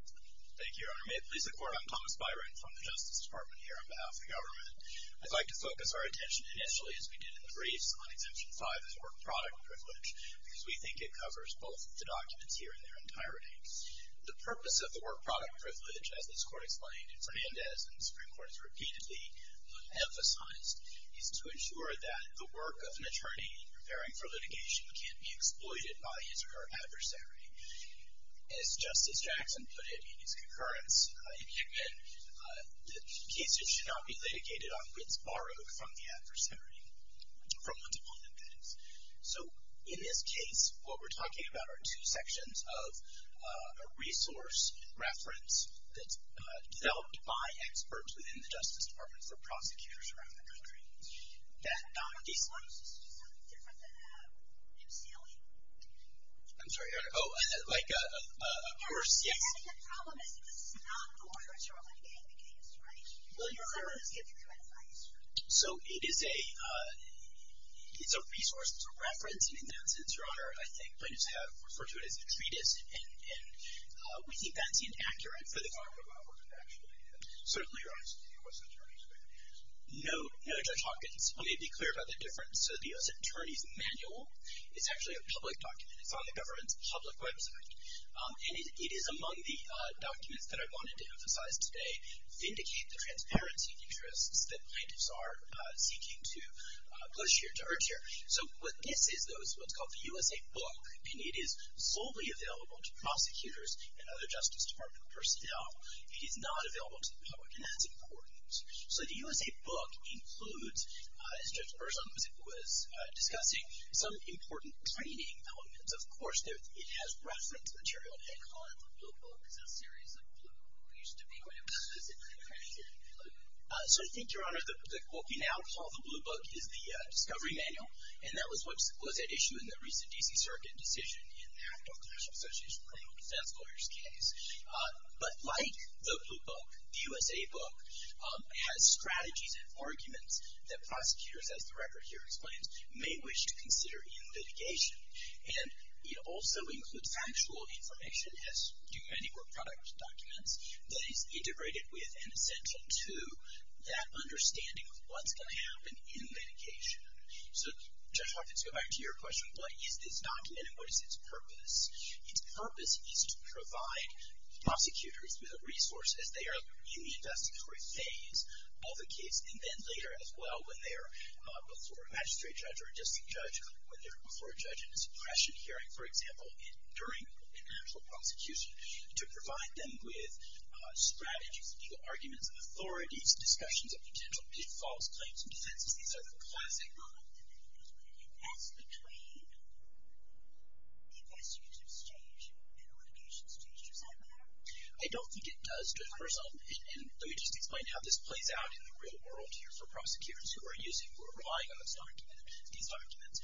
Thank you, Your Honor. May it please the Court, I'm Thomas Byron from the Justice Department here on behalf of the government. I'd like to focus our attention initially, as we did in the briefs, on Exemption 5 as a work product privilege, because we think it covers both the documents here and their entirety. The purpose of the work product privilege, as this Court explained and Fernandez and the Supreme Court has repeatedly emphasized, is to ensure that the work of an attorney in preparing for litigation can't be exploited by his or her adversary. As Justice Jackson put it in his concurrence in Hickman, cases should not be litigated on bids borrowed from the adversary, from one to more than three. So, in this case, what we're talking about are two sections of a resource reference that's developed by experts within the Justice Department for prosecutors around the country. I'm sorry, Your Honor. Oh, like a course, yes. So, it's a resource, it's a reference. And in that sense, Your Honor, I think plaintiffs have referred to it as a treatise, and we think that's inaccurate for the Department of Law Enforcement, actually. Certainly, Your Honor. No, Judge Hawkins, let me be clear about the difference. So, the U.S. Attorney's Manual is actually a public document. It's on the government's public website. And it is among the documents that I wanted to emphasize today to indicate the transparency interests that plaintiffs are seeking to push here, to urge here. So, what this is, though, is what's called the U.S.A. Book, and it is solely available to prosecutors and other Justice Department personnel. It is not available to the public, and that's important. So, the U.S.A. Book includes, as Judge Burson was discussing, some important training elements. Of course, it has reference material. They call it the Blue Book. It's a series of blue books. We used to equate them to a series of blue books. So, I think, Your Honor, what we now call the Blue Book is the discovery manual, and that was at issue in the recent D.C. Circuit decision in the Act of Classical Association of Criminal Defense Lawyers case. But like the Blue Book, the U.S.A. Book has strategies and arguments that prosecutors, as the record here explains, may wish to consider in litigation. And it also includes factual information, as do many more product documents, that is integrated with and essential to that understanding of what's going to happen in litigation. So, Judge Hoffman, to go back to your question, what is this document and what is its purpose? Its purpose is to provide prosecutors with the resources. They are in the investigatory phase of a case, and then later, as well, when they're before a magistrate judge or a district judge, when they're before a judge in a suppression hearing, for example, and during an actual prosecution, to provide them with strategies and legal arguments and authorities, discussions of potential false claims and defenses. These are the classic. And that's between the investigative stage and the litigation stage. Does that matter? I don't think it does to a person. And let me just explain how this plays out in the real world here for prosecutors who are using or relying on this document, these documents.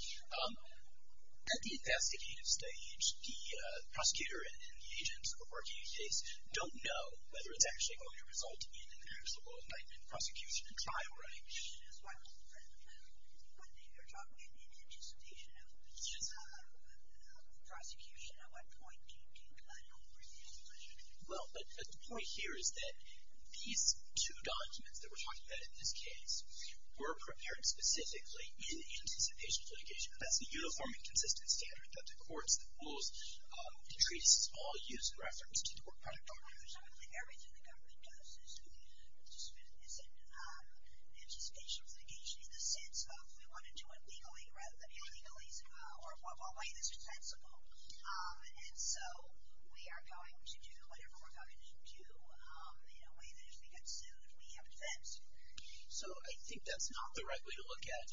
At the investigative stage, the prosecutor and the agents who are working the case don't know whether it's actually going to result in an actual indictment, prosecution, or trial. Right. When you're talking about the anticipation of prosecution, at what point do you bring the information in? Well, the point here is that these two documents that we're talking about in this case were prepared specifically in anticipation of litigation. That's the uniform and consistent standard that the courts, the rules, the treatises, all use in reference to the work product document. Everything the government does is in anticipation of litigation in the sense of we want to do it legally rather than illegally or in a way that's defensible. And so we are going to do whatever we're going to do in a way that if we get sued, we have defense. So I think that's not the right way to look at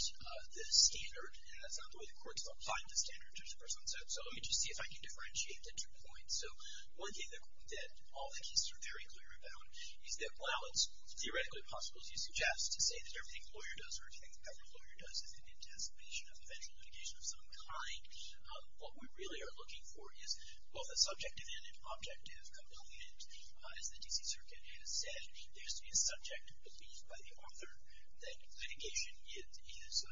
the standard, and that's not the way the courts define the standard. So let me just see if I can differentiate the two points. So one thing that all the cases are very clear about is that, while it's theoretically possible, as you suggest, to say that everything a lawyer does or everything a government lawyer does is in anticipation of eventual litigation of some kind, what we really are looking for is both a subjective and an objective component. As the D.C. Circuit has said, there's to be a subjective belief by the author that litigation is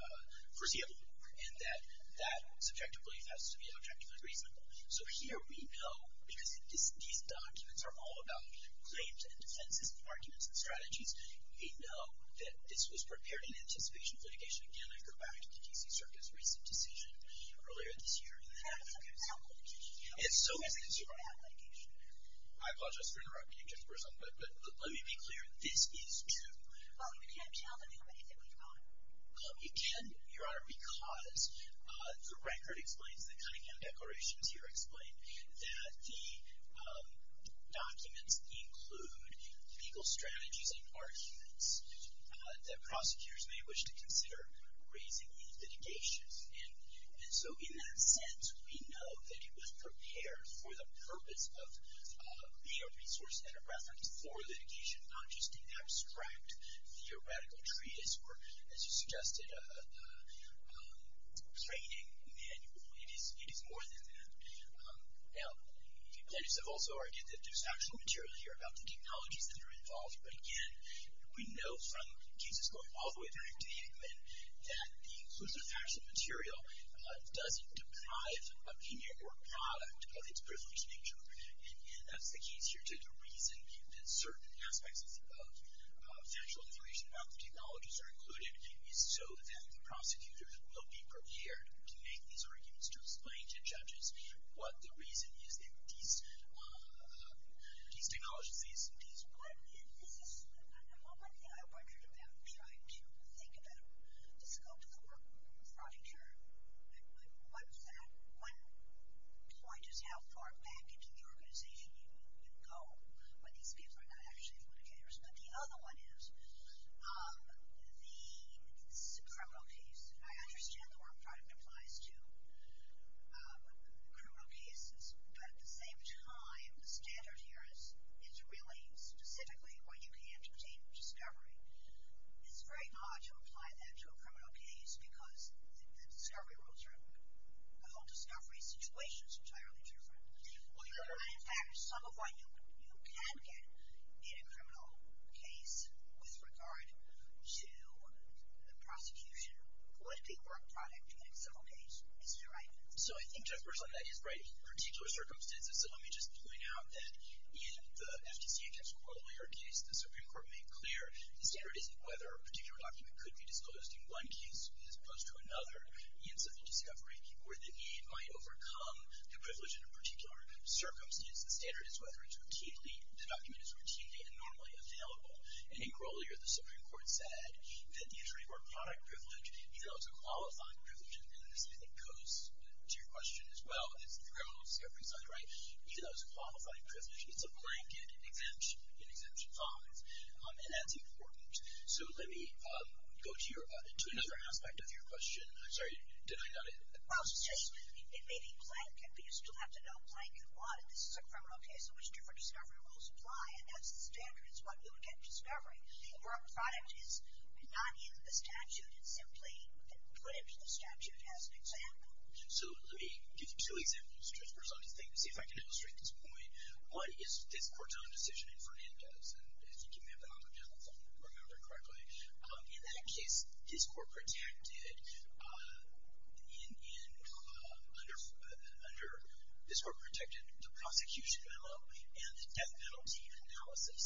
foreseeable and that that subjective belief has to be objectively reasonable. So here we know, because these documents are all about claims and defenses and arguments and strategies, we know that this was prepared in anticipation of litigation. Again, I go back to the D.C. Circuit's recent decision earlier this year. It's so easy to say, I apologize for interrupting you, but let me be clear, this is true. Well, you can't tell them who it is that we're calling. Well, you can, Your Honor, because the record explains, the Cunningham Declarations here explain, that the documents include legal strategies and arguments that prosecutors may wish to consider raising in litigation. And so in that sense, we know that it was prepared for the purpose of being a resource and a reference for litigation, not just an abstract theoretical treatise or, as you suggested, a training manual. It is more than that. Now, plaintiffs have also argued that there's factual material here about the technologies that are involved. But again, we know from cases going all the way back to the England that the inclusive factual material doesn't deprive opinion or product of its privileged nature. And that's the case here too. The reason that certain aspects of factual information about the technologies are included is so that the prosecutor will be prepared to make these arguments, to explain to judges what the reason is that these technologies, these... One thing I wondered about, trying to think about the scope of the work, but one point is how far back into the organization you would go when these people are not actually litigators. But the other one is the criminal case. I understand the word product applies to criminal cases, but at the same time, the standard here is really specifically what you can't obtain from discovery. It's very odd to apply that to a criminal case because the whole discovery situation is entirely different. Well, you're right. In fact, some of what you can get in a criminal case with regard to the prosecution would be work product in a civil case. Isn't that right? So I think, Judge Berslin, that is right in particular circumstances. So let me just point out that in the FTC against Cora Lawyer case, the Supreme Court made clear the standard isn't whether a particular document could be disclosed in one case as opposed to another in civil discovery or that it might overcome the privilege in a particular circumstance. The standard is whether it's routinely, the document is routinely and normally available. And I think earlier the Supreme Court said that the attorney or product privilege, even though it's a qualifying privilege, and this I think goes to your question as well, it's the criminal discovery side, right? Even though it's a qualifying privilege, it's a blanket in Exemption 5. And that's important. So let me go to another aspect of your question. I'm sorry. Did I get it? Well, it may be blanket, but you still have to know blanket what. And this is a criminal case in which different discovery rules apply. And that's the standard. It's what you would get in discovery. The work product is not in the statute. It's simply put into the statute as an example. So let me give you two examples, Judge Berslin, to see if I can illustrate this point. One is this Corton decision in Fernandez. And I think you may have been on the telephone, if I remember correctly. In that case, this Court protected under the prosecution memo and the death penalty analysis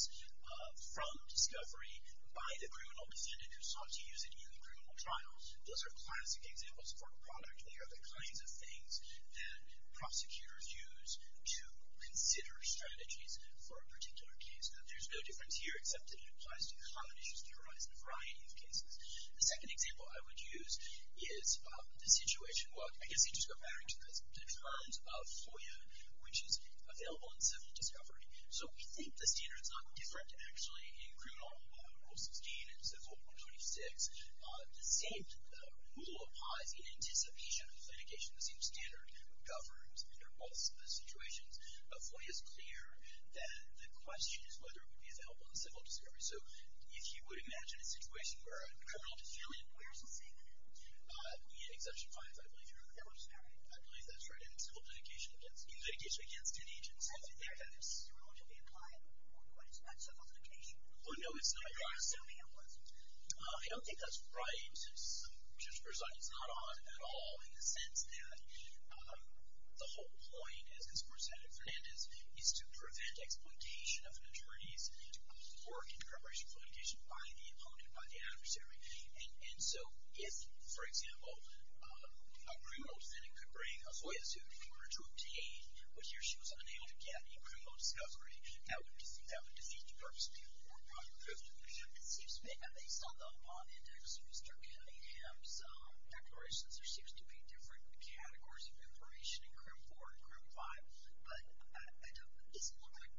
from discovery by the criminal defendant who sought to use it in the criminal trial. Those are classic examples for a product. They are the kinds of things that prosecutors use to consider strategies for a particular case. There's no difference here, except that it applies to common issues that arise in a variety of cases. The second example I would use is the situation, well, I guess it just goes back to the terms of FOIA, which is available in civil discovery. So we think the standard is not quite different, actually, in criminal rule 16 and civil rule 26. The same rule applies in anticipation of litigation. The same standard governs under both situations. But FOIA is clear that the question is whether it would be available in civil discovery. So if you would imagine a situation where a criminal defendant in Exemption 5, I believe you're correct. I believe that's right. In civil litigation against ten agents, I think they would have the same rule that would be applied. But it's not civil litigation. Well, no, it's not. I don't think that's right, just for a second. It's not odd at all in the sense that the whole point as it's presented in Fernandez is to prevent exploitation of an attorney's work in preparation for litigation by the opponent, by the adversary. And so if, for example, a criminal defendant could bring a FOIA suit in order to obtain whether she was unable to get a criminal discovery, that would defeat the purpose of the important part of the question. It seems to me, based on the bond index of Mr. Kennedy and his declarations, there seems to be different categories of information in CRIM 4 and CRIM 5. But it doesn't look like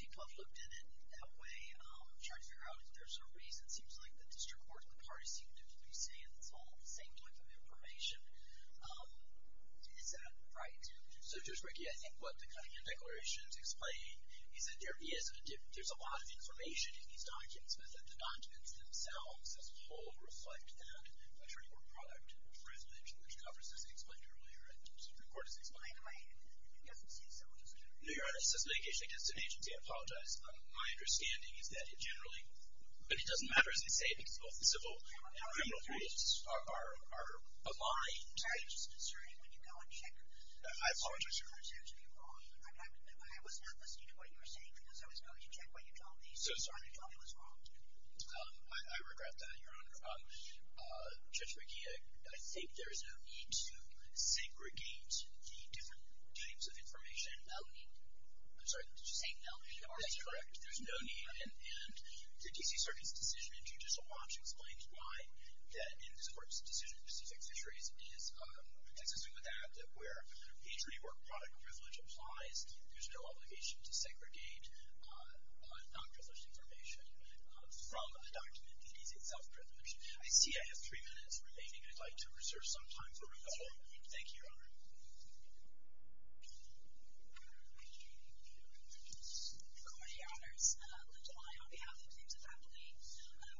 people have looked at it in that way. I'm trying to figure out if there's a reason. It seems like the district court and the parties seem to be saying it's all the same type of information. Is that right? So just, Ricky, I think what the Cunningham declarations explain is that there's a lot of information in these documents, but that the documents themselves as a whole reflect that attorney work product resolution, which covers, as I explained earlier, and the Supreme Court has explained. Your Honor, this is a litigation against an agency. I apologize. My understanding is that it generally, but it doesn't matter as they say because both the civil and criminal parties are aligned. I'm just concerned when you go and check. I apologize, Your Honor. I was not listening to what you were saying because I was going to check what you told me, so I'm sorry you told me I was wrong. I regret that, Your Honor. Judge Ricky, I think there is no need to segregate the different types of information. No need. I'm sorry. Did you say no need? Your Honor, that's correct. There's no need, and the D.C. Circuit's decision in Judicial Watch explains why that, in this court's decision, Pacific Fisheries is consistent with that, that where attorney work product privilege applies, there's no obligation to segregate non-privileged information from the document. It is a self-privilege. I see I have three minutes remaining. I'd like to reserve some time for rebuttal. Thank you, Your Honor. Good morning, Your Honors. Linda Lye on behalf of the Clemson faculty.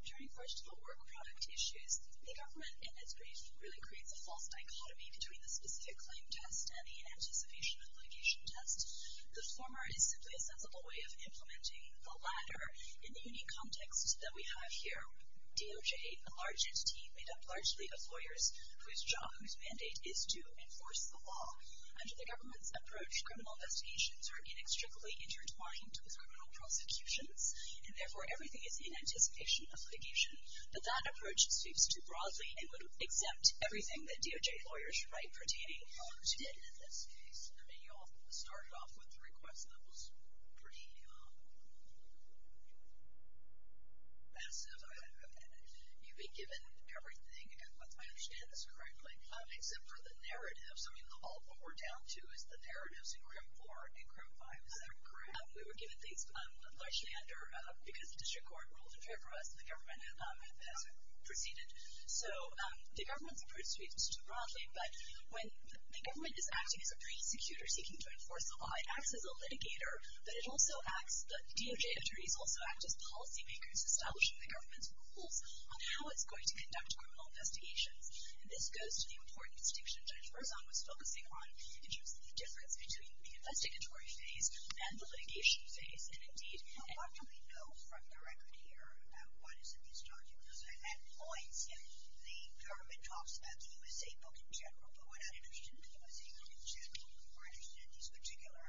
During first of all work product issues, the government in its brief really creates a false dichotomy between the specific claim test and the anticipation obligation test. The former is simply a sensible way of implementing the latter in the context that we have here. DOJ, a large entity made up largely of lawyers whose job, whose mandate is to enforce the law. Under the government's approach, criminal investigations are inextricably intertwined with criminal prosecutions, and therefore everything is in anticipation of litigation. But that approach speaks too broadly and would exempt everything that DOJ lawyers write pertaining to this case. You all started off with a request that was pretty massive. You've been given everything. I understand this correctly. Except for the narratives. I mean, what we're down to is the narratives in CRIM 4 and CRIM 5. Is that correct? We were given these largely under, because the district court ruled in favor of us, and the government has proceeded. So the government's approach speaks too broadly. But when the government is acting as a prosecutor seeking to enforce the law, it acts as a litigator. But it also acts, the DOJ entities also act as policy makers establishing the government's rules on how it's going to conduct criminal investigations. And this goes to the important distinction that Jennifer Zung was focusing on in terms of the difference between the investigatory phase and the litigation phase. And, indeed. What do we know from the record here about what is in these documents? The government talks about the USA Book in general, but what I understand from the USA Book in general, or I understand these particular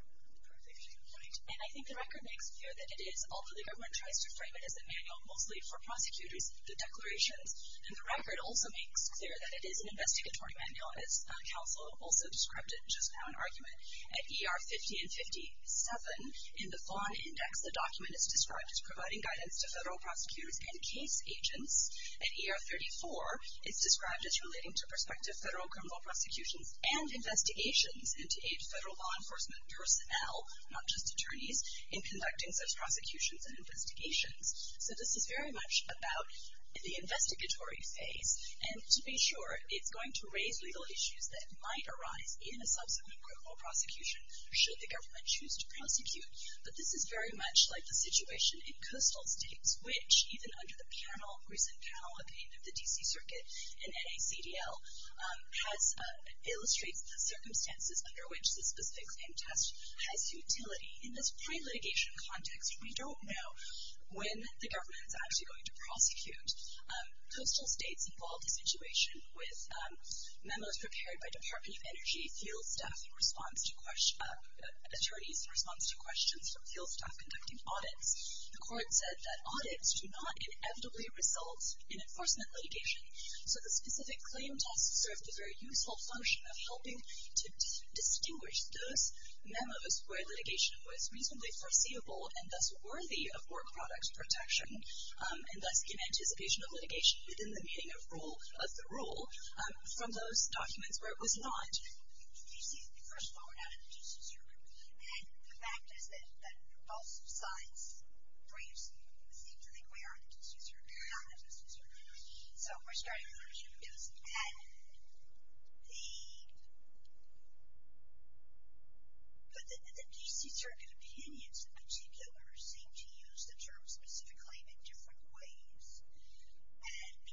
provisions, right? And I think the record makes clear that it is, although the government tries to frame it as a manual mostly for prosecutors, the declarations in the record also makes clear that it is an investigatory manual, and its counsel also described it just now in argument. At ER 50 and 57, in the Fawn Index, the document is described as providing guidance to federal prosecutors and case agents. At ER 34, it's described as relating to prospective federal criminal prosecutions and investigations, and to aid federal law enforcement personnel, not just attorneys, in conducting such prosecutions and investigations. So this is very much about the investigatory phase, and to be sure it's going to raise legal issues that might arise in a subsequent criminal prosecution should the government choose to prosecute. But this is very much like the situation in coastal states, which even under the recent panel opinion of the D.C. Circuit and NACDL illustrates the circumstances under which the specific claim test has utility. In this pre-litigation context, we don't know when the government is actually going to prosecute. Coastal states involved a situation with memos prepared by Department of Energy field staff in response to questions, attorneys in response to questions from field staff conducting audits. The court said that audits do not inevitably result in enforcement litigation. So the specific claim test served a very useful function of helping to distinguish those memos where litigation was reasonably foreseeable and thus worthy of court product protection and thus in anticipation of litigation within the meaning of the rule from those documents where it was not. First of all, we're not in the D.C. Circuit. And the fact is that most science briefs seem to think we are in the D.C. Circuit. We're not in the D.C. Circuit. So we're starting with our human test. And the D.C. Circuit opinions in particular seem to use the term specific claim in different ways. And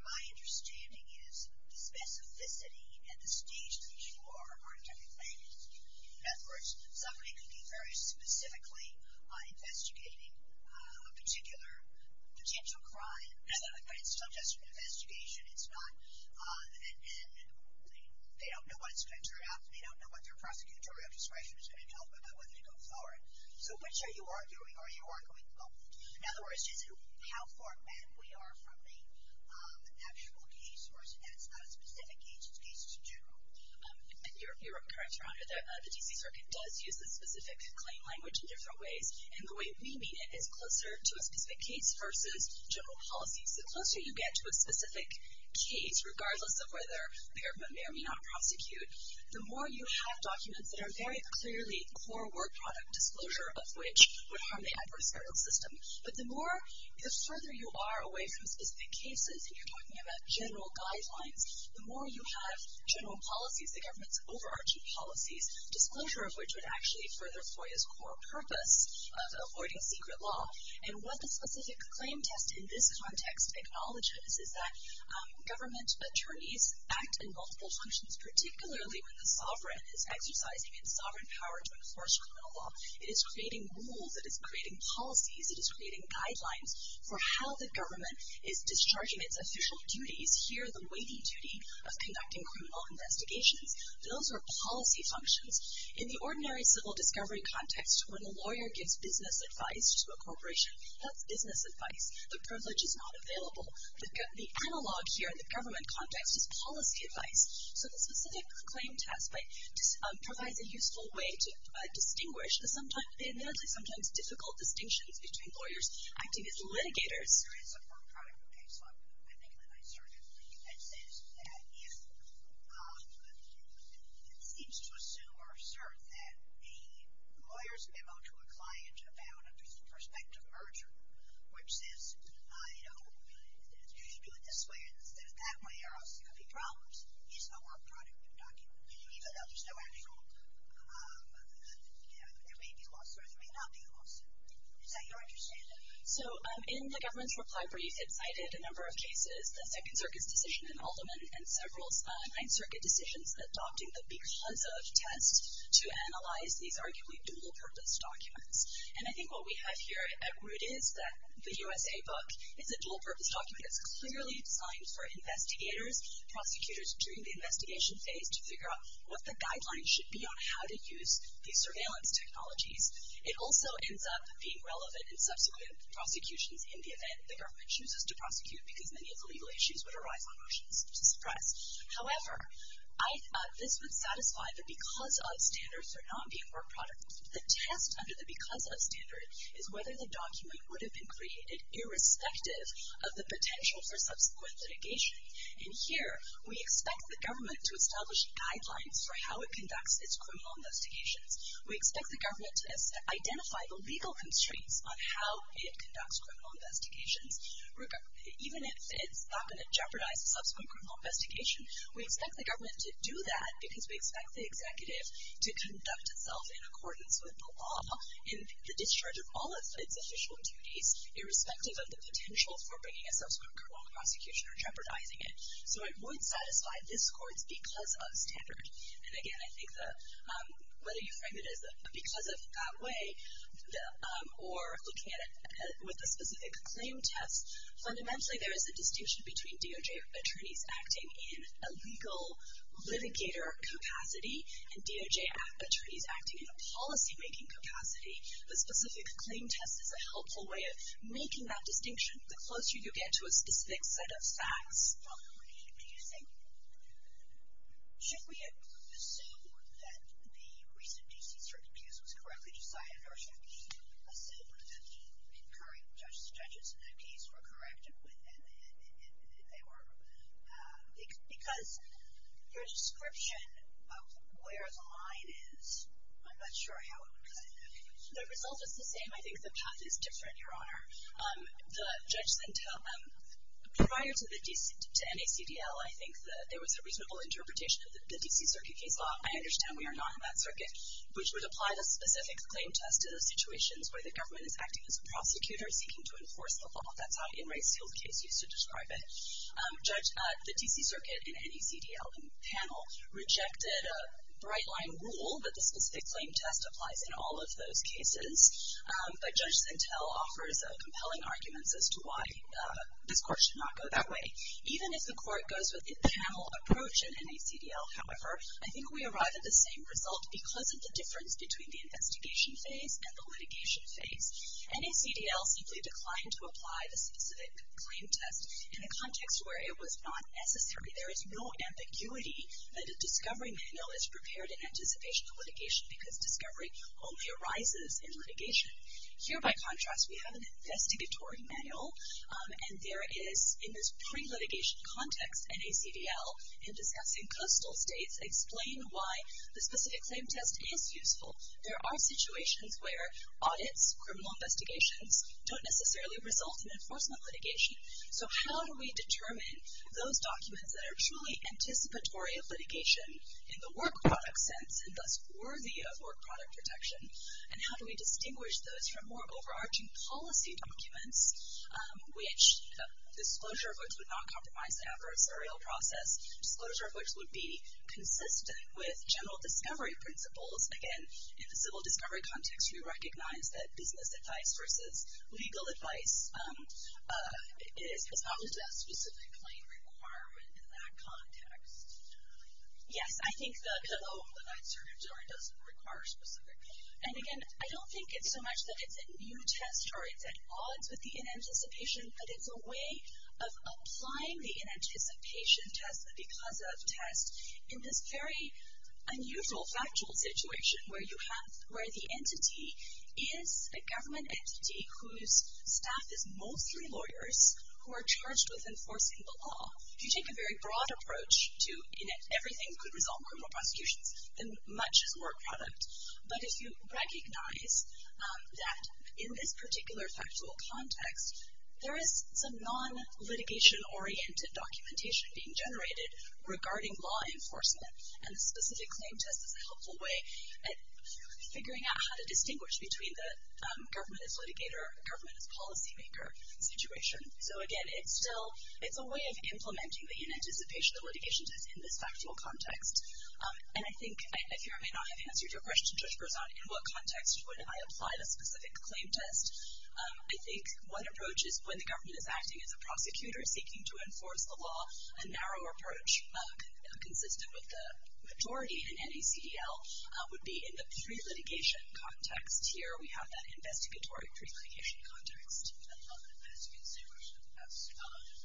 my understanding is the specificity and the stage that you are on technically. In other words, somebody could be very specifically investigating a particular potential crime, but it's still just an investigation. It's not an end. They don't know what it's going to turn out. They don't know what their prosecutorial discretion is going to tell them about whether to go forward. So which are you arguing? Are you arguing both? In other words, is it how far back we are from the actual case? Or is it that it's not a specific case, it's a case in general? You're correct, Your Honor. The D.C. Circuit does use the specific claim language in different ways. And the way we mean it is closer to a specific case versus general policy. So the closer you get to a specific case, regardless of whether a parent may or may not prosecute, the more you have documents that are very clearly core work product disclosure of which would harm the adverse criminal system. But the further you are away from specific cases, and you're talking about general guidelines, the more you have general policies, the government's overarching policies, disclosure of which would actually further FOIA's core purpose of avoiding secret law. And what the specific claim test in this context acknowledges is that government attorneys act in multiple functions, particularly when the sovereign is exercising its sovereign power to disclose. It is creating rules, it is creating policies, it is creating guidelines for how the government is discharging its official duties, here the weighty duty of conducting criminal investigations. Those are policy functions. In the ordinary civil discovery context, when a lawyer gives business advice to a corporation, that's business advice. The privilege is not available. The analog here in the government context is policy advice. So the specific claim test provides a useful way to distinguish the sometimes difficult distinctions between lawyers acting as litigators. There is a firm product of case law, I think, in the NYSERDA that says that if it seems to assume or assert that a lawyer's memo to a client about a prospective merger, which says, you know, you should do it this way instead of that way, or else there could be problems, is a work product in document. Even though there's no actual, you know, there may be a lawsuit or there may not be a lawsuit. Is that your understanding? So in the government's reply brief, it cited a number of cases, the Second Circuit's decision in Alderman and several Ninth Circuit decisions adopting the because of test to analyze these arguably dual-purpose documents. And I think what we have here at root is that the USA book is a dual-purpose document that's clearly designed for investigators, prosecutors during the investigation phase to figure out what the guidelines should be on how to use these surveillance technologies. It also ends up being relevant in subsequent prosecutions in the event the government chooses to prosecute because many of the legal issues would arise on motions to suppress. However, I thought this would satisfy the because of standards for not being a work product. The test under the because of standard is whether the document would have been created irrespective of the potential for subsequent litigation. And here we expect the government to establish guidelines for how it conducts its criminal investigations. We expect the government to identify the legal constraints on how it conducts criminal investigations. Even if it's not going to jeopardize the subsequent criminal investigation, we expect the government to do that because we expect the executive to conduct itself in accordance with the law and the discharge of all of its official duties irrespective of the potential for bringing a subsequent criminal prosecution or jeopardizing it. So it would satisfy this court's because of standard. And, again, I think that whether you frame it as a because of that way or looking at it with a specific claim test, fundamentally there is a distinction between DOJ attorneys acting in a legal litigator capacity and DOJ attorneys acting in a policymaking capacity. The specific claim test is a helpful way of making that distinction. The closer you get to a specific set of facts, this is probably confusing. Should we assume that the recent D.C. Circuit case was correctly decided or should we assume that the current judges in that case were correct if they were? Because your description of where the line is, I'm not sure how the result is the same. I think the path is different, Your Honor. Prior to NACDL, I think that there was a reasonable interpretation of the D.C. Circuit case law. I understand we are not in that circuit, which would apply the specific claim test to those situations where the government is acting as a prosecutor seeking to enforce the law. That's how In Re's field case used to describe it. The D.C. Circuit and NACDL panel rejected a bright-line rule that the specific claim test applies in all of those cases. But Judge Sintel offers compelling arguments as to why this court should not go that way. Even if the court goes with the panel approach in NACDL, however, I think we arrive at the same result because of the difference between the investigation phase and the litigation phase. NACDL simply declined to apply the specific claim test in a context where it was not necessary. There is no ambiguity that a discovery manual is prepared in anticipation of litigation because discovery only arises in litigation. Here, by contrast, we have an investigatory manual. And there is, in this pre-litigation context, NACDL, in discussing coastal states, explain why the specific claim test is useful. There are situations where audits, criminal investigations, don't necessarily result in enforcement litigation. So how do we determine those documents that are truly anticipatory of litigation in the work product sense and thus worthy of work product protection? And how do we distinguish those from more overarching policy documents, which the disclosure of which would not compromise the adversarial process, disclosure of which would be consistent with general discovery principles? Again, in the civil discovery context, we recognize that business advice versus legal advice is not listed as a specific claim requirement in that context. Yes, I think the pillow that I served during doesn't require a specific claim. And again, I don't think it's so much that it's a new test or it's at odds with the inanticipation, but it's a way of applying the inanticipation test, the because of test, in this very unusual factual situation where the entity is a government entity whose staff is mostly lawyers who are charged with enforcing the law. If you take a very broad approach to, in that everything could resolve criminal prosecutions, then much is work product. But if you recognize that in this particular factual context, there is some non-litigation-oriented documentation being generated regarding law enforcement, and the specific claim test is a helpful way at figuring out how to distinguish between the government as litigator or government as policymaker situation. So again, it's a way of implementing the inanticipation, the litigation test, in this factual context. And I think, if I may not have answered your question, Judge Berzon, in what context would I apply the specific claim test? I think one approach is when the government is acting as a prosecutor seeking to enforce the law, a narrower approach consistent with the majority in NACDL would be in the pre-litigation context. Here we have that investigatory pre-litigation context. I don't know if that's considered a test. It's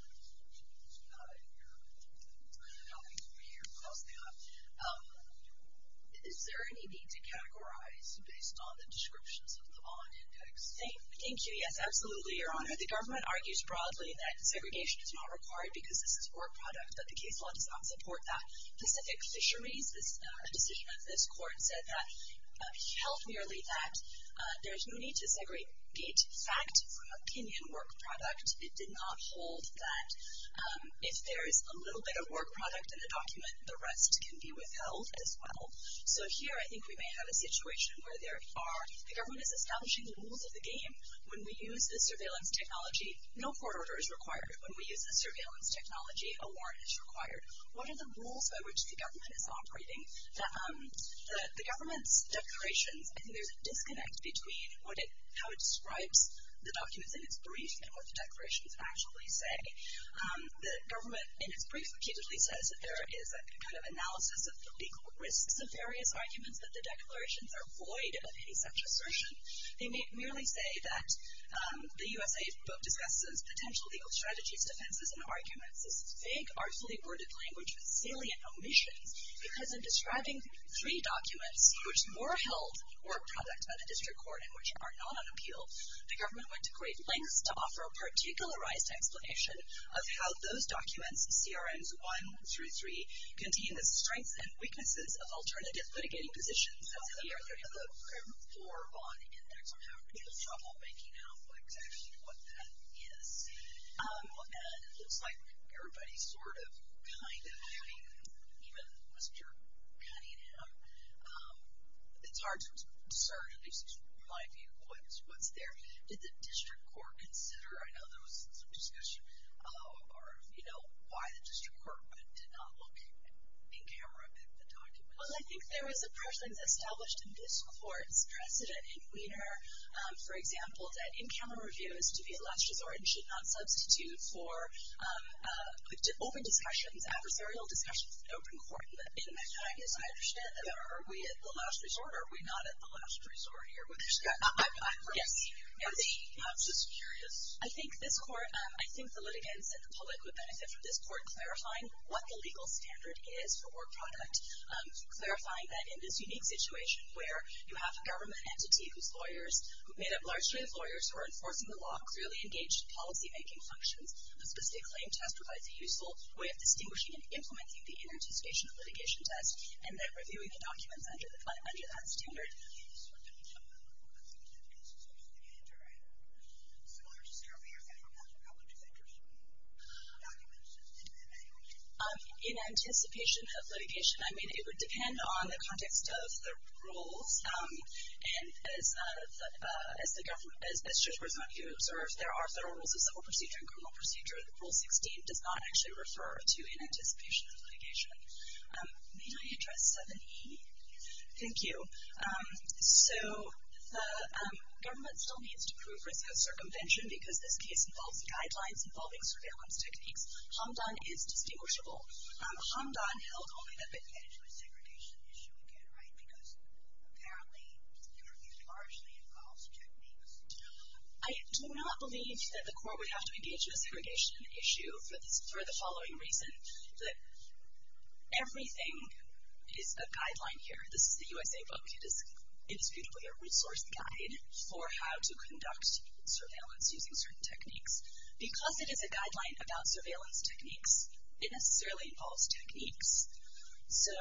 not in here. It's not over here. Of course they are. Is there any need to categorize based on the descriptions of the bond index? Thank you. Yes, absolutely, Your Honor. The government argues broadly that segregation is not required because this is work product, but the case law does not support that. Pacific Fisheries, a decision of this court, said that health merely facts. There's no need to segregate fact from opinion work product. It did not hold that if there is a little bit of work product in a document, the rest can be withheld as well. So here I think we may have a situation where there are the government is establishing the rules of the game. When we use the surveillance technology, no court order is required. When we use the surveillance technology, a warrant is required. What are the rules by which the government is operating? The government's declarations, I think there's a disconnect between how it describes the documents in its brief and what the declarations actually say. The government in its brief repeatedly says that there is a kind of analysis of the legal risks of various arguments that the declarations are void of any such assertion. They merely say that the U.S.A. book discusses potential legal strategies, defenses, and arguments as fake, artfully worded language with salient omissions because in describing three documents which were held work product by the district court and which are not on appeal, the government went to great lengths to offer a particularized explanation of how those documents, CRMs 1 through 3, contain the strengths and weaknesses of alternative litigating positions. The CRM 4 bond index, I'm having a little trouble making out exactly what that is. And it looks like everybody's sort of kind of having, even Mr. Cunningham, it's hard to discern at least my view of what's there. Did the district court consider, I know there was some discussion, you know, why the district court did not look in camera at the documents? Well, I think there was a precedent established in this court's precedent in Wiener, for example, that in-camera reviews to be at last resort should not substitute for open discussions, adversarial discussions in open court. I guess I understand that. Are we at the last resort or are we not at the last resort here? I'm just curious. I think this court, I think the litigants and the public would benefit from this court clarifying what the legal standard is for work product, clarifying that in this unique situation where you have a government entity who's lawyers, made up largely of lawyers who are enforcing the law, clearly engaged in policymaking functions, a specific claim test provides a useful way of distinguishing and implementing the inter-anticipation litigation test, and then reviewing the documents under that standard. I'm just wondering if the public would benefit from this sort of standard, similar to CERB here, if any of the public is interested in the documents, is it in any way? In anticipation of litigation, I mean, it would depend on the context of the rules, and as the district court is not here to observe, there are federal rules of civil procedure and criminal procedure. Rule 16 does not actually refer to in anticipation of litigation. May I address 7E? Thank you. So the government still needs to prove risk of circumvention because this case involves guidelines involving surveillance techniques. Hamdan is distinguishable. Hamdan held only the potential segregation issue again, right, because apparently it largely involves techniques. I do not believe that the court would have to engage in a segregation issue for the following reason, that everything is a guideline here. This is the USA book. It is beautifully a resource guide for how to conduct surveillance using certain techniques. Because it is a guideline about surveillance techniques, it necessarily involves techniques. So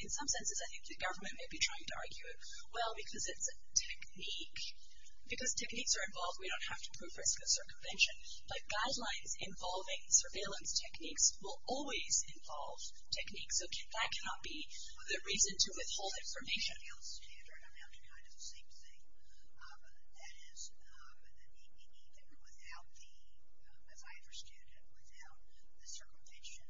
in some senses, I think the government may be trying to argue, well, because it's a technique, because techniques are involved, we don't have to prove risk of circumvention. But guidelines involving surveillance techniques will always involve techniques. So that cannot be the reason to withhold information. I'm having kind of the same thing. That is, if I understood it without the circumvention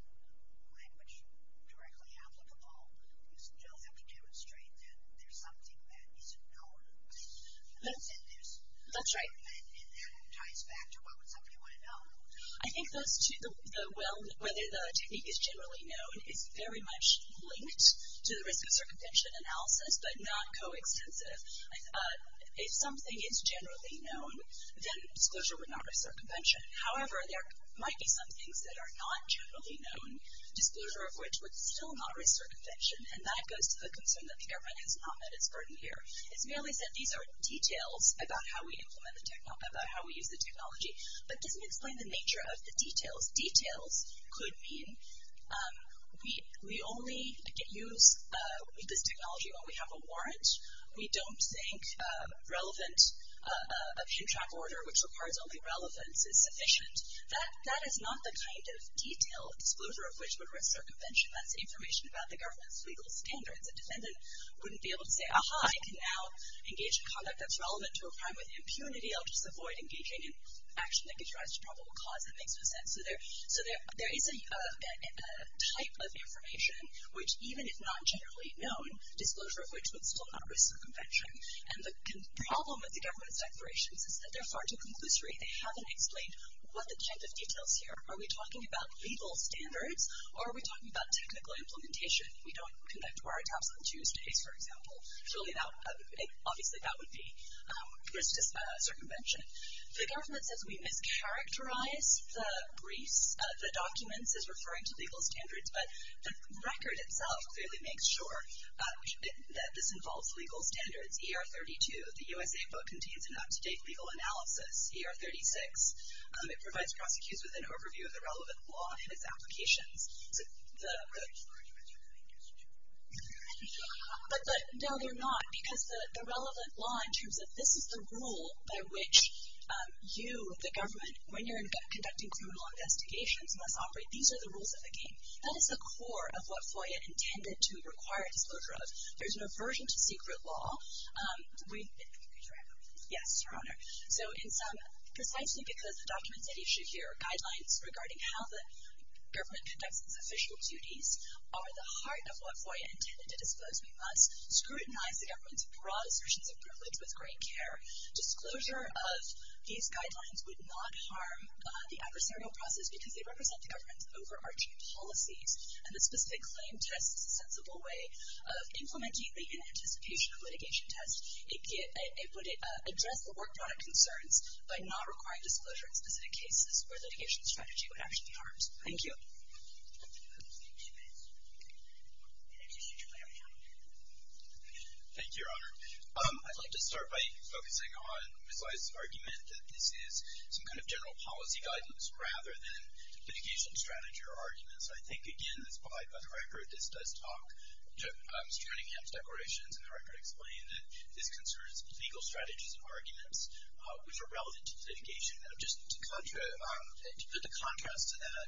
language directly applicable, you still have to demonstrate that there's something that isn't known. That's right. And that ties back to what would somebody want to know? I think whether the technique is generally known is very much linked to the risk of circumvention analysis, but not coextensive. If something is generally known, then disclosure would not risk circumvention. However, there might be some things that are not generally known, disclosure of which would still not risk circumvention, and that goes to the concern that the government has not met its burden here. It's merely said these are details about how we use the technology, but doesn't explain the nature of the details. Because details could mean we only use this technology when we have a warrant. We don't think relevant, a contract order which requires only relevance is sufficient. That is not the kind of detail disclosure of which would risk circumvention. That's information about the government's legal standards. A defendant wouldn't be able to say, aha, I can now engage in conduct that's relevant to a crime with impunity. I'll just avoid engaging in action that could rise to probable cause. That makes no sense. So there is a type of information which, even if not generally known, disclosure of which would still not risk circumvention. And the problem with the government's declarations is that they're far too conclusory. They haven't explained what the type of details here are. Are we talking about legal standards, or are we talking about technical implementation? We don't conduct wiretaps on Tuesdays, for example. Surely that would be risk to circumvention. The government says we mischaracterize the briefs, the documents as referring to legal standards, but the record itself clearly makes sure that this involves legal standards. ER 32 of the USA book contains an up-to-date legal analysis. ER 36, it provides prosecutors with an overview of the relevant law and its applications. But no, they're not, because the relevant law in terms of this is the rule by which you, the government, when you're conducting criminal investigations, must operate. These are the rules of the game. That is the core of what FOIA intended to require disclosure of. There's an aversion to secret law. Yes, Your Honor. So precisely because the documents at issue here are guidelines regarding how the government conducts its official duties are the heart of what FOIA intended to disclose. We must scrutinize the government's broad assertions of privilege with great care. Disclosure of these guidelines would not harm the adversarial process, because they represent the government's overarching policies. And the specific claim test is a sensible way of implementing the inanticipation litigation test. It would address the work product concerns by not requiring disclosure in specific cases where litigation strategy would actually be harmed. Thank you. Thank you, Your Honor. I'd like to start by focusing on Ms. Lye's argument that this is some kind of general policy guidance rather than litigation strategy or arguments. I think, again, that's why, by the record, this does talk to Mr. Manningham's declarations, and the record explained that this concerns legal strategies and arguments which are relevant to litigation. Just to put the contrast to that,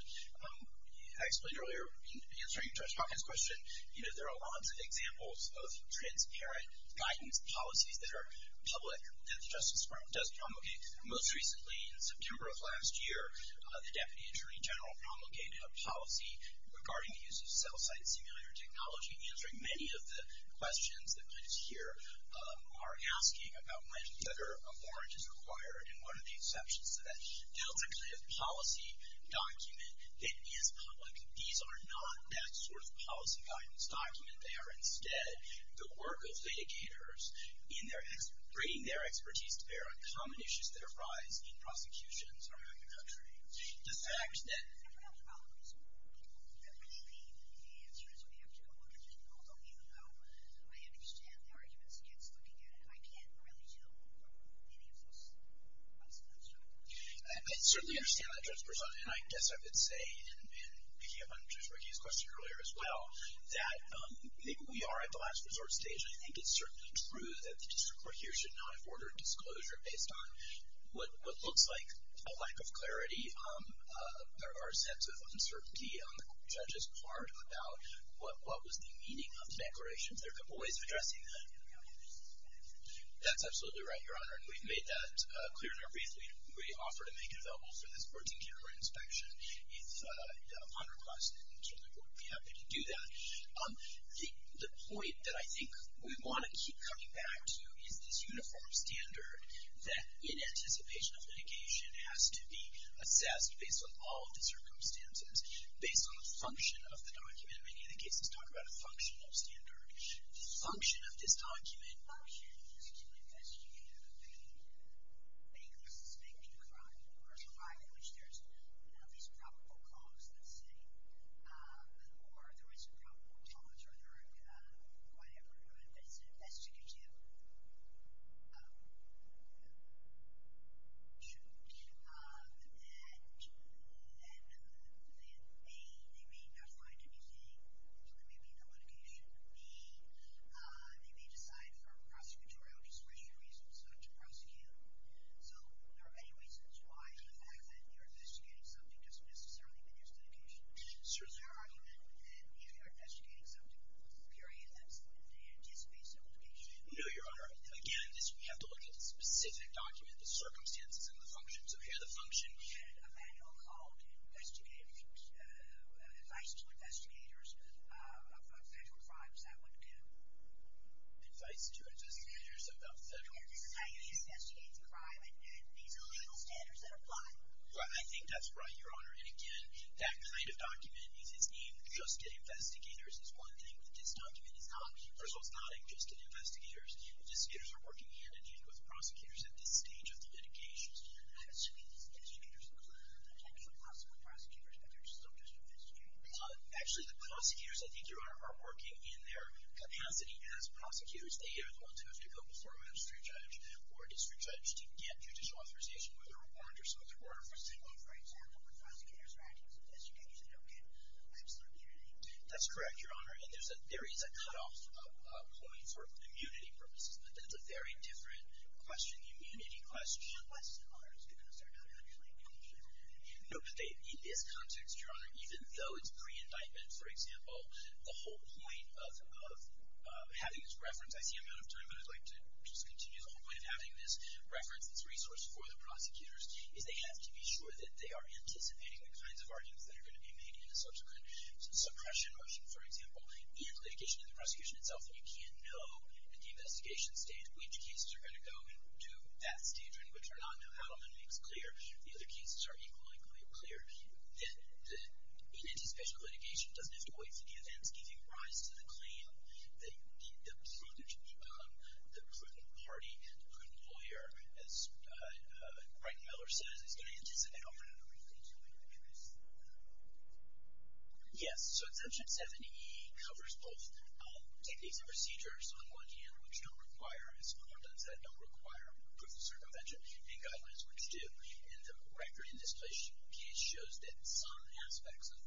I explained earlier, in answering Judge Hawkins' question, there are lots of examples of transparent guidance policies that are public that the Justice Department does promulgate. Most recently, in September of last year, the Deputy Attorney General promulgated a policy regarding the use of cell site simulator technology, answering many of the questions that we just hear are asking about whether a warrant is required and what are the exceptions to that. That was a kind of policy document that is public. These are not that sort of policy guidance document. They are, instead, the work of litigators in bringing their expertise to bear on common issues that arise in prosecutions around the country. The fact that the real problem is that when they leave, the answer is we have to go look at this. Although, even though I understand the arguments against looking at it, I can't really do any of this policy construction. I certainly understand that, Judge Brisson, and I guess I would say, in picking up on Judge McGee's question earlier as well, that we are at the last resort stage. I think it's certainly true that the District Court here should not have ordered disclosure based on what looks like a lack of clarity or a sense of uncertainty on the judge's part about what was the meaning of the declarations. There are a couple of ways of addressing that. That's absolutely right, Your Honor, and we've made that clear in our brief. We offer to make it available for this Board's in-camera inspection. If a bond requires it, certainly the Board would be happy to do that. The point that I think we want to keep coming back to is this uniform standard that in anticipation of litigation has to be assessed based on all of the circumstances, based on the function of the document. In many of the cases, talk about a functional standard. Function of this document. Function is to investigate a convicted bank-suspecting crime or a crime in which there's at least probable cause, let's say, or there is probable cause or there are whatever. But it's an investigative issue. And then, A, they may not find anything, so there may be no litigation. B, they may decide for prosecutorial discretionary reasons not to prosecute. So there are many reasons why the fact that you're investigating something doesn't necessarily mean there's litigation. Sir, is there an argument that if you're investigating something, period, that they anticipate some litigation? No, Your Honor. Again, we have to look at the specific document, the circumstances, and the function. So here the function. We had a manual called Advice to Investigators of Federal Crimes. That would do. Advice to Investigators of Federal Crimes. This is how you investigate the crime, and these are legal standards that apply. I think that's right, Your Honor. And, again, that kind of document is aimed just at investigators. It's one thing that this document is not. First of all, it's not aimed just at investigators. Investigators are working hand-in-hand with prosecutors at this stage of the litigation. Actually, these investigators are the actual possible prosecutors, but they're still just investigators. Actually, the prosecutors, I think, Your Honor, are working in their capacity as prosecutors. They are the ones who have to go before a magistrate judge or a district judge to get judicial authorization, whether a warrant or some other order. For example, when prosecutors are acting as investigators, they don't get absolute immunity. That's correct, Your Honor, and there is a cutoff point for immunity purposes, but that's a very different question, the immunity question. Unless, Your Honor, it's because they're not actually doing anything. No, but they, in this context, Your Honor, even though it's pre-indictment, for example, the whole point of having this reference, I see I'm out of time, but I'd like to just continue. The whole point of having this reference, this resource for the prosecutors is they have to be sure that they are anticipating the kinds of arguments that are going to be made in a subsequent suppression motion, for example, and litigation in the prosecution itself. And you can't know at the investigation stage which cases are going to go to that stage and which are not. Now, Adelman makes clear, the other cases are equally clear, that in anticipation of litigation, it doesn't have to wait for the events giving rise to the claim that the Putin party and the Putin lawyer, as Greg Miller says, is going to anticipate opening up a reference to a legal case. Yes, so Exemption 70E covers both techniques and procedures, on one hand, which don't require, as Mueller does that don't require proof of circumvention, and guidelines, which do. And the record in this case shows that some aspects of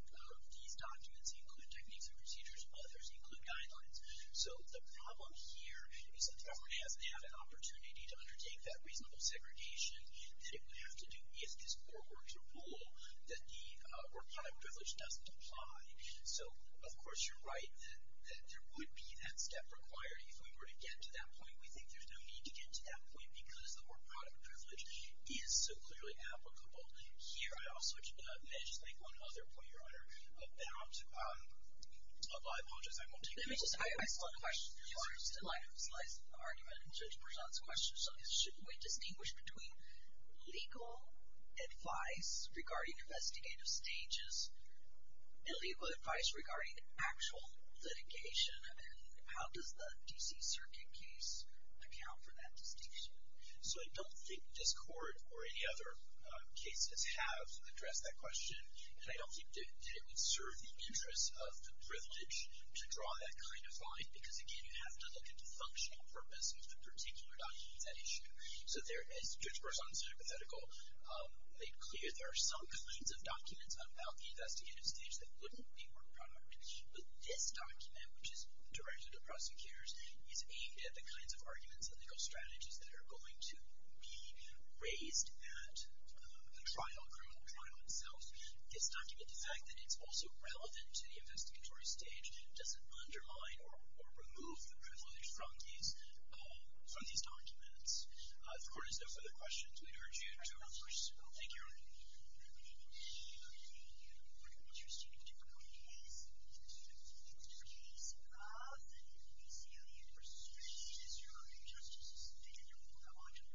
these documents include techniques and procedures. Others include guidelines. So the problem here is that the government hasn't had an opportunity to undertake that reasonable segregation that it would have to do if this court were to rule that the work-product privilege doesn't apply. So, of course, you're right that there would be that step required if we were to get to that point. We think there's no need to get to that point because the work-product privilege is so clearly applicable. Here, I also just want to mention one other point, Your Honor, about, I apologize, I won't take questions. Let me just, I still have a question, Your Honor. I still have a slice of the argument in Judge Brisson's question. Shouldn't we distinguish between legal advice regarding investigative stages and legal advice regarding actual litigation? And how does the D.C. Circuit case account for that distinction? So I don't think this court or any other cases have addressed that question. And I don't think that it would serve the interests of the privilege to draw that kind of line because, again, you have to look at the functional purpose of the particular documents that issue. So there, as Judge Brisson's hypothetical made clear, there are some kinds of documents about the investigative stage that wouldn't be work-product. But this document, which is directed to prosecutors, is aimed at the kinds of arguments and legal strategies that are going to be raised at the trial, criminal trial itself. This document, the fact that it's also relevant to the investigatory stage, doesn't undermine or remove the privilege from these documents. If the court has no further questions, we'd urge you to refer. Thank you, Your Honor. Thank you.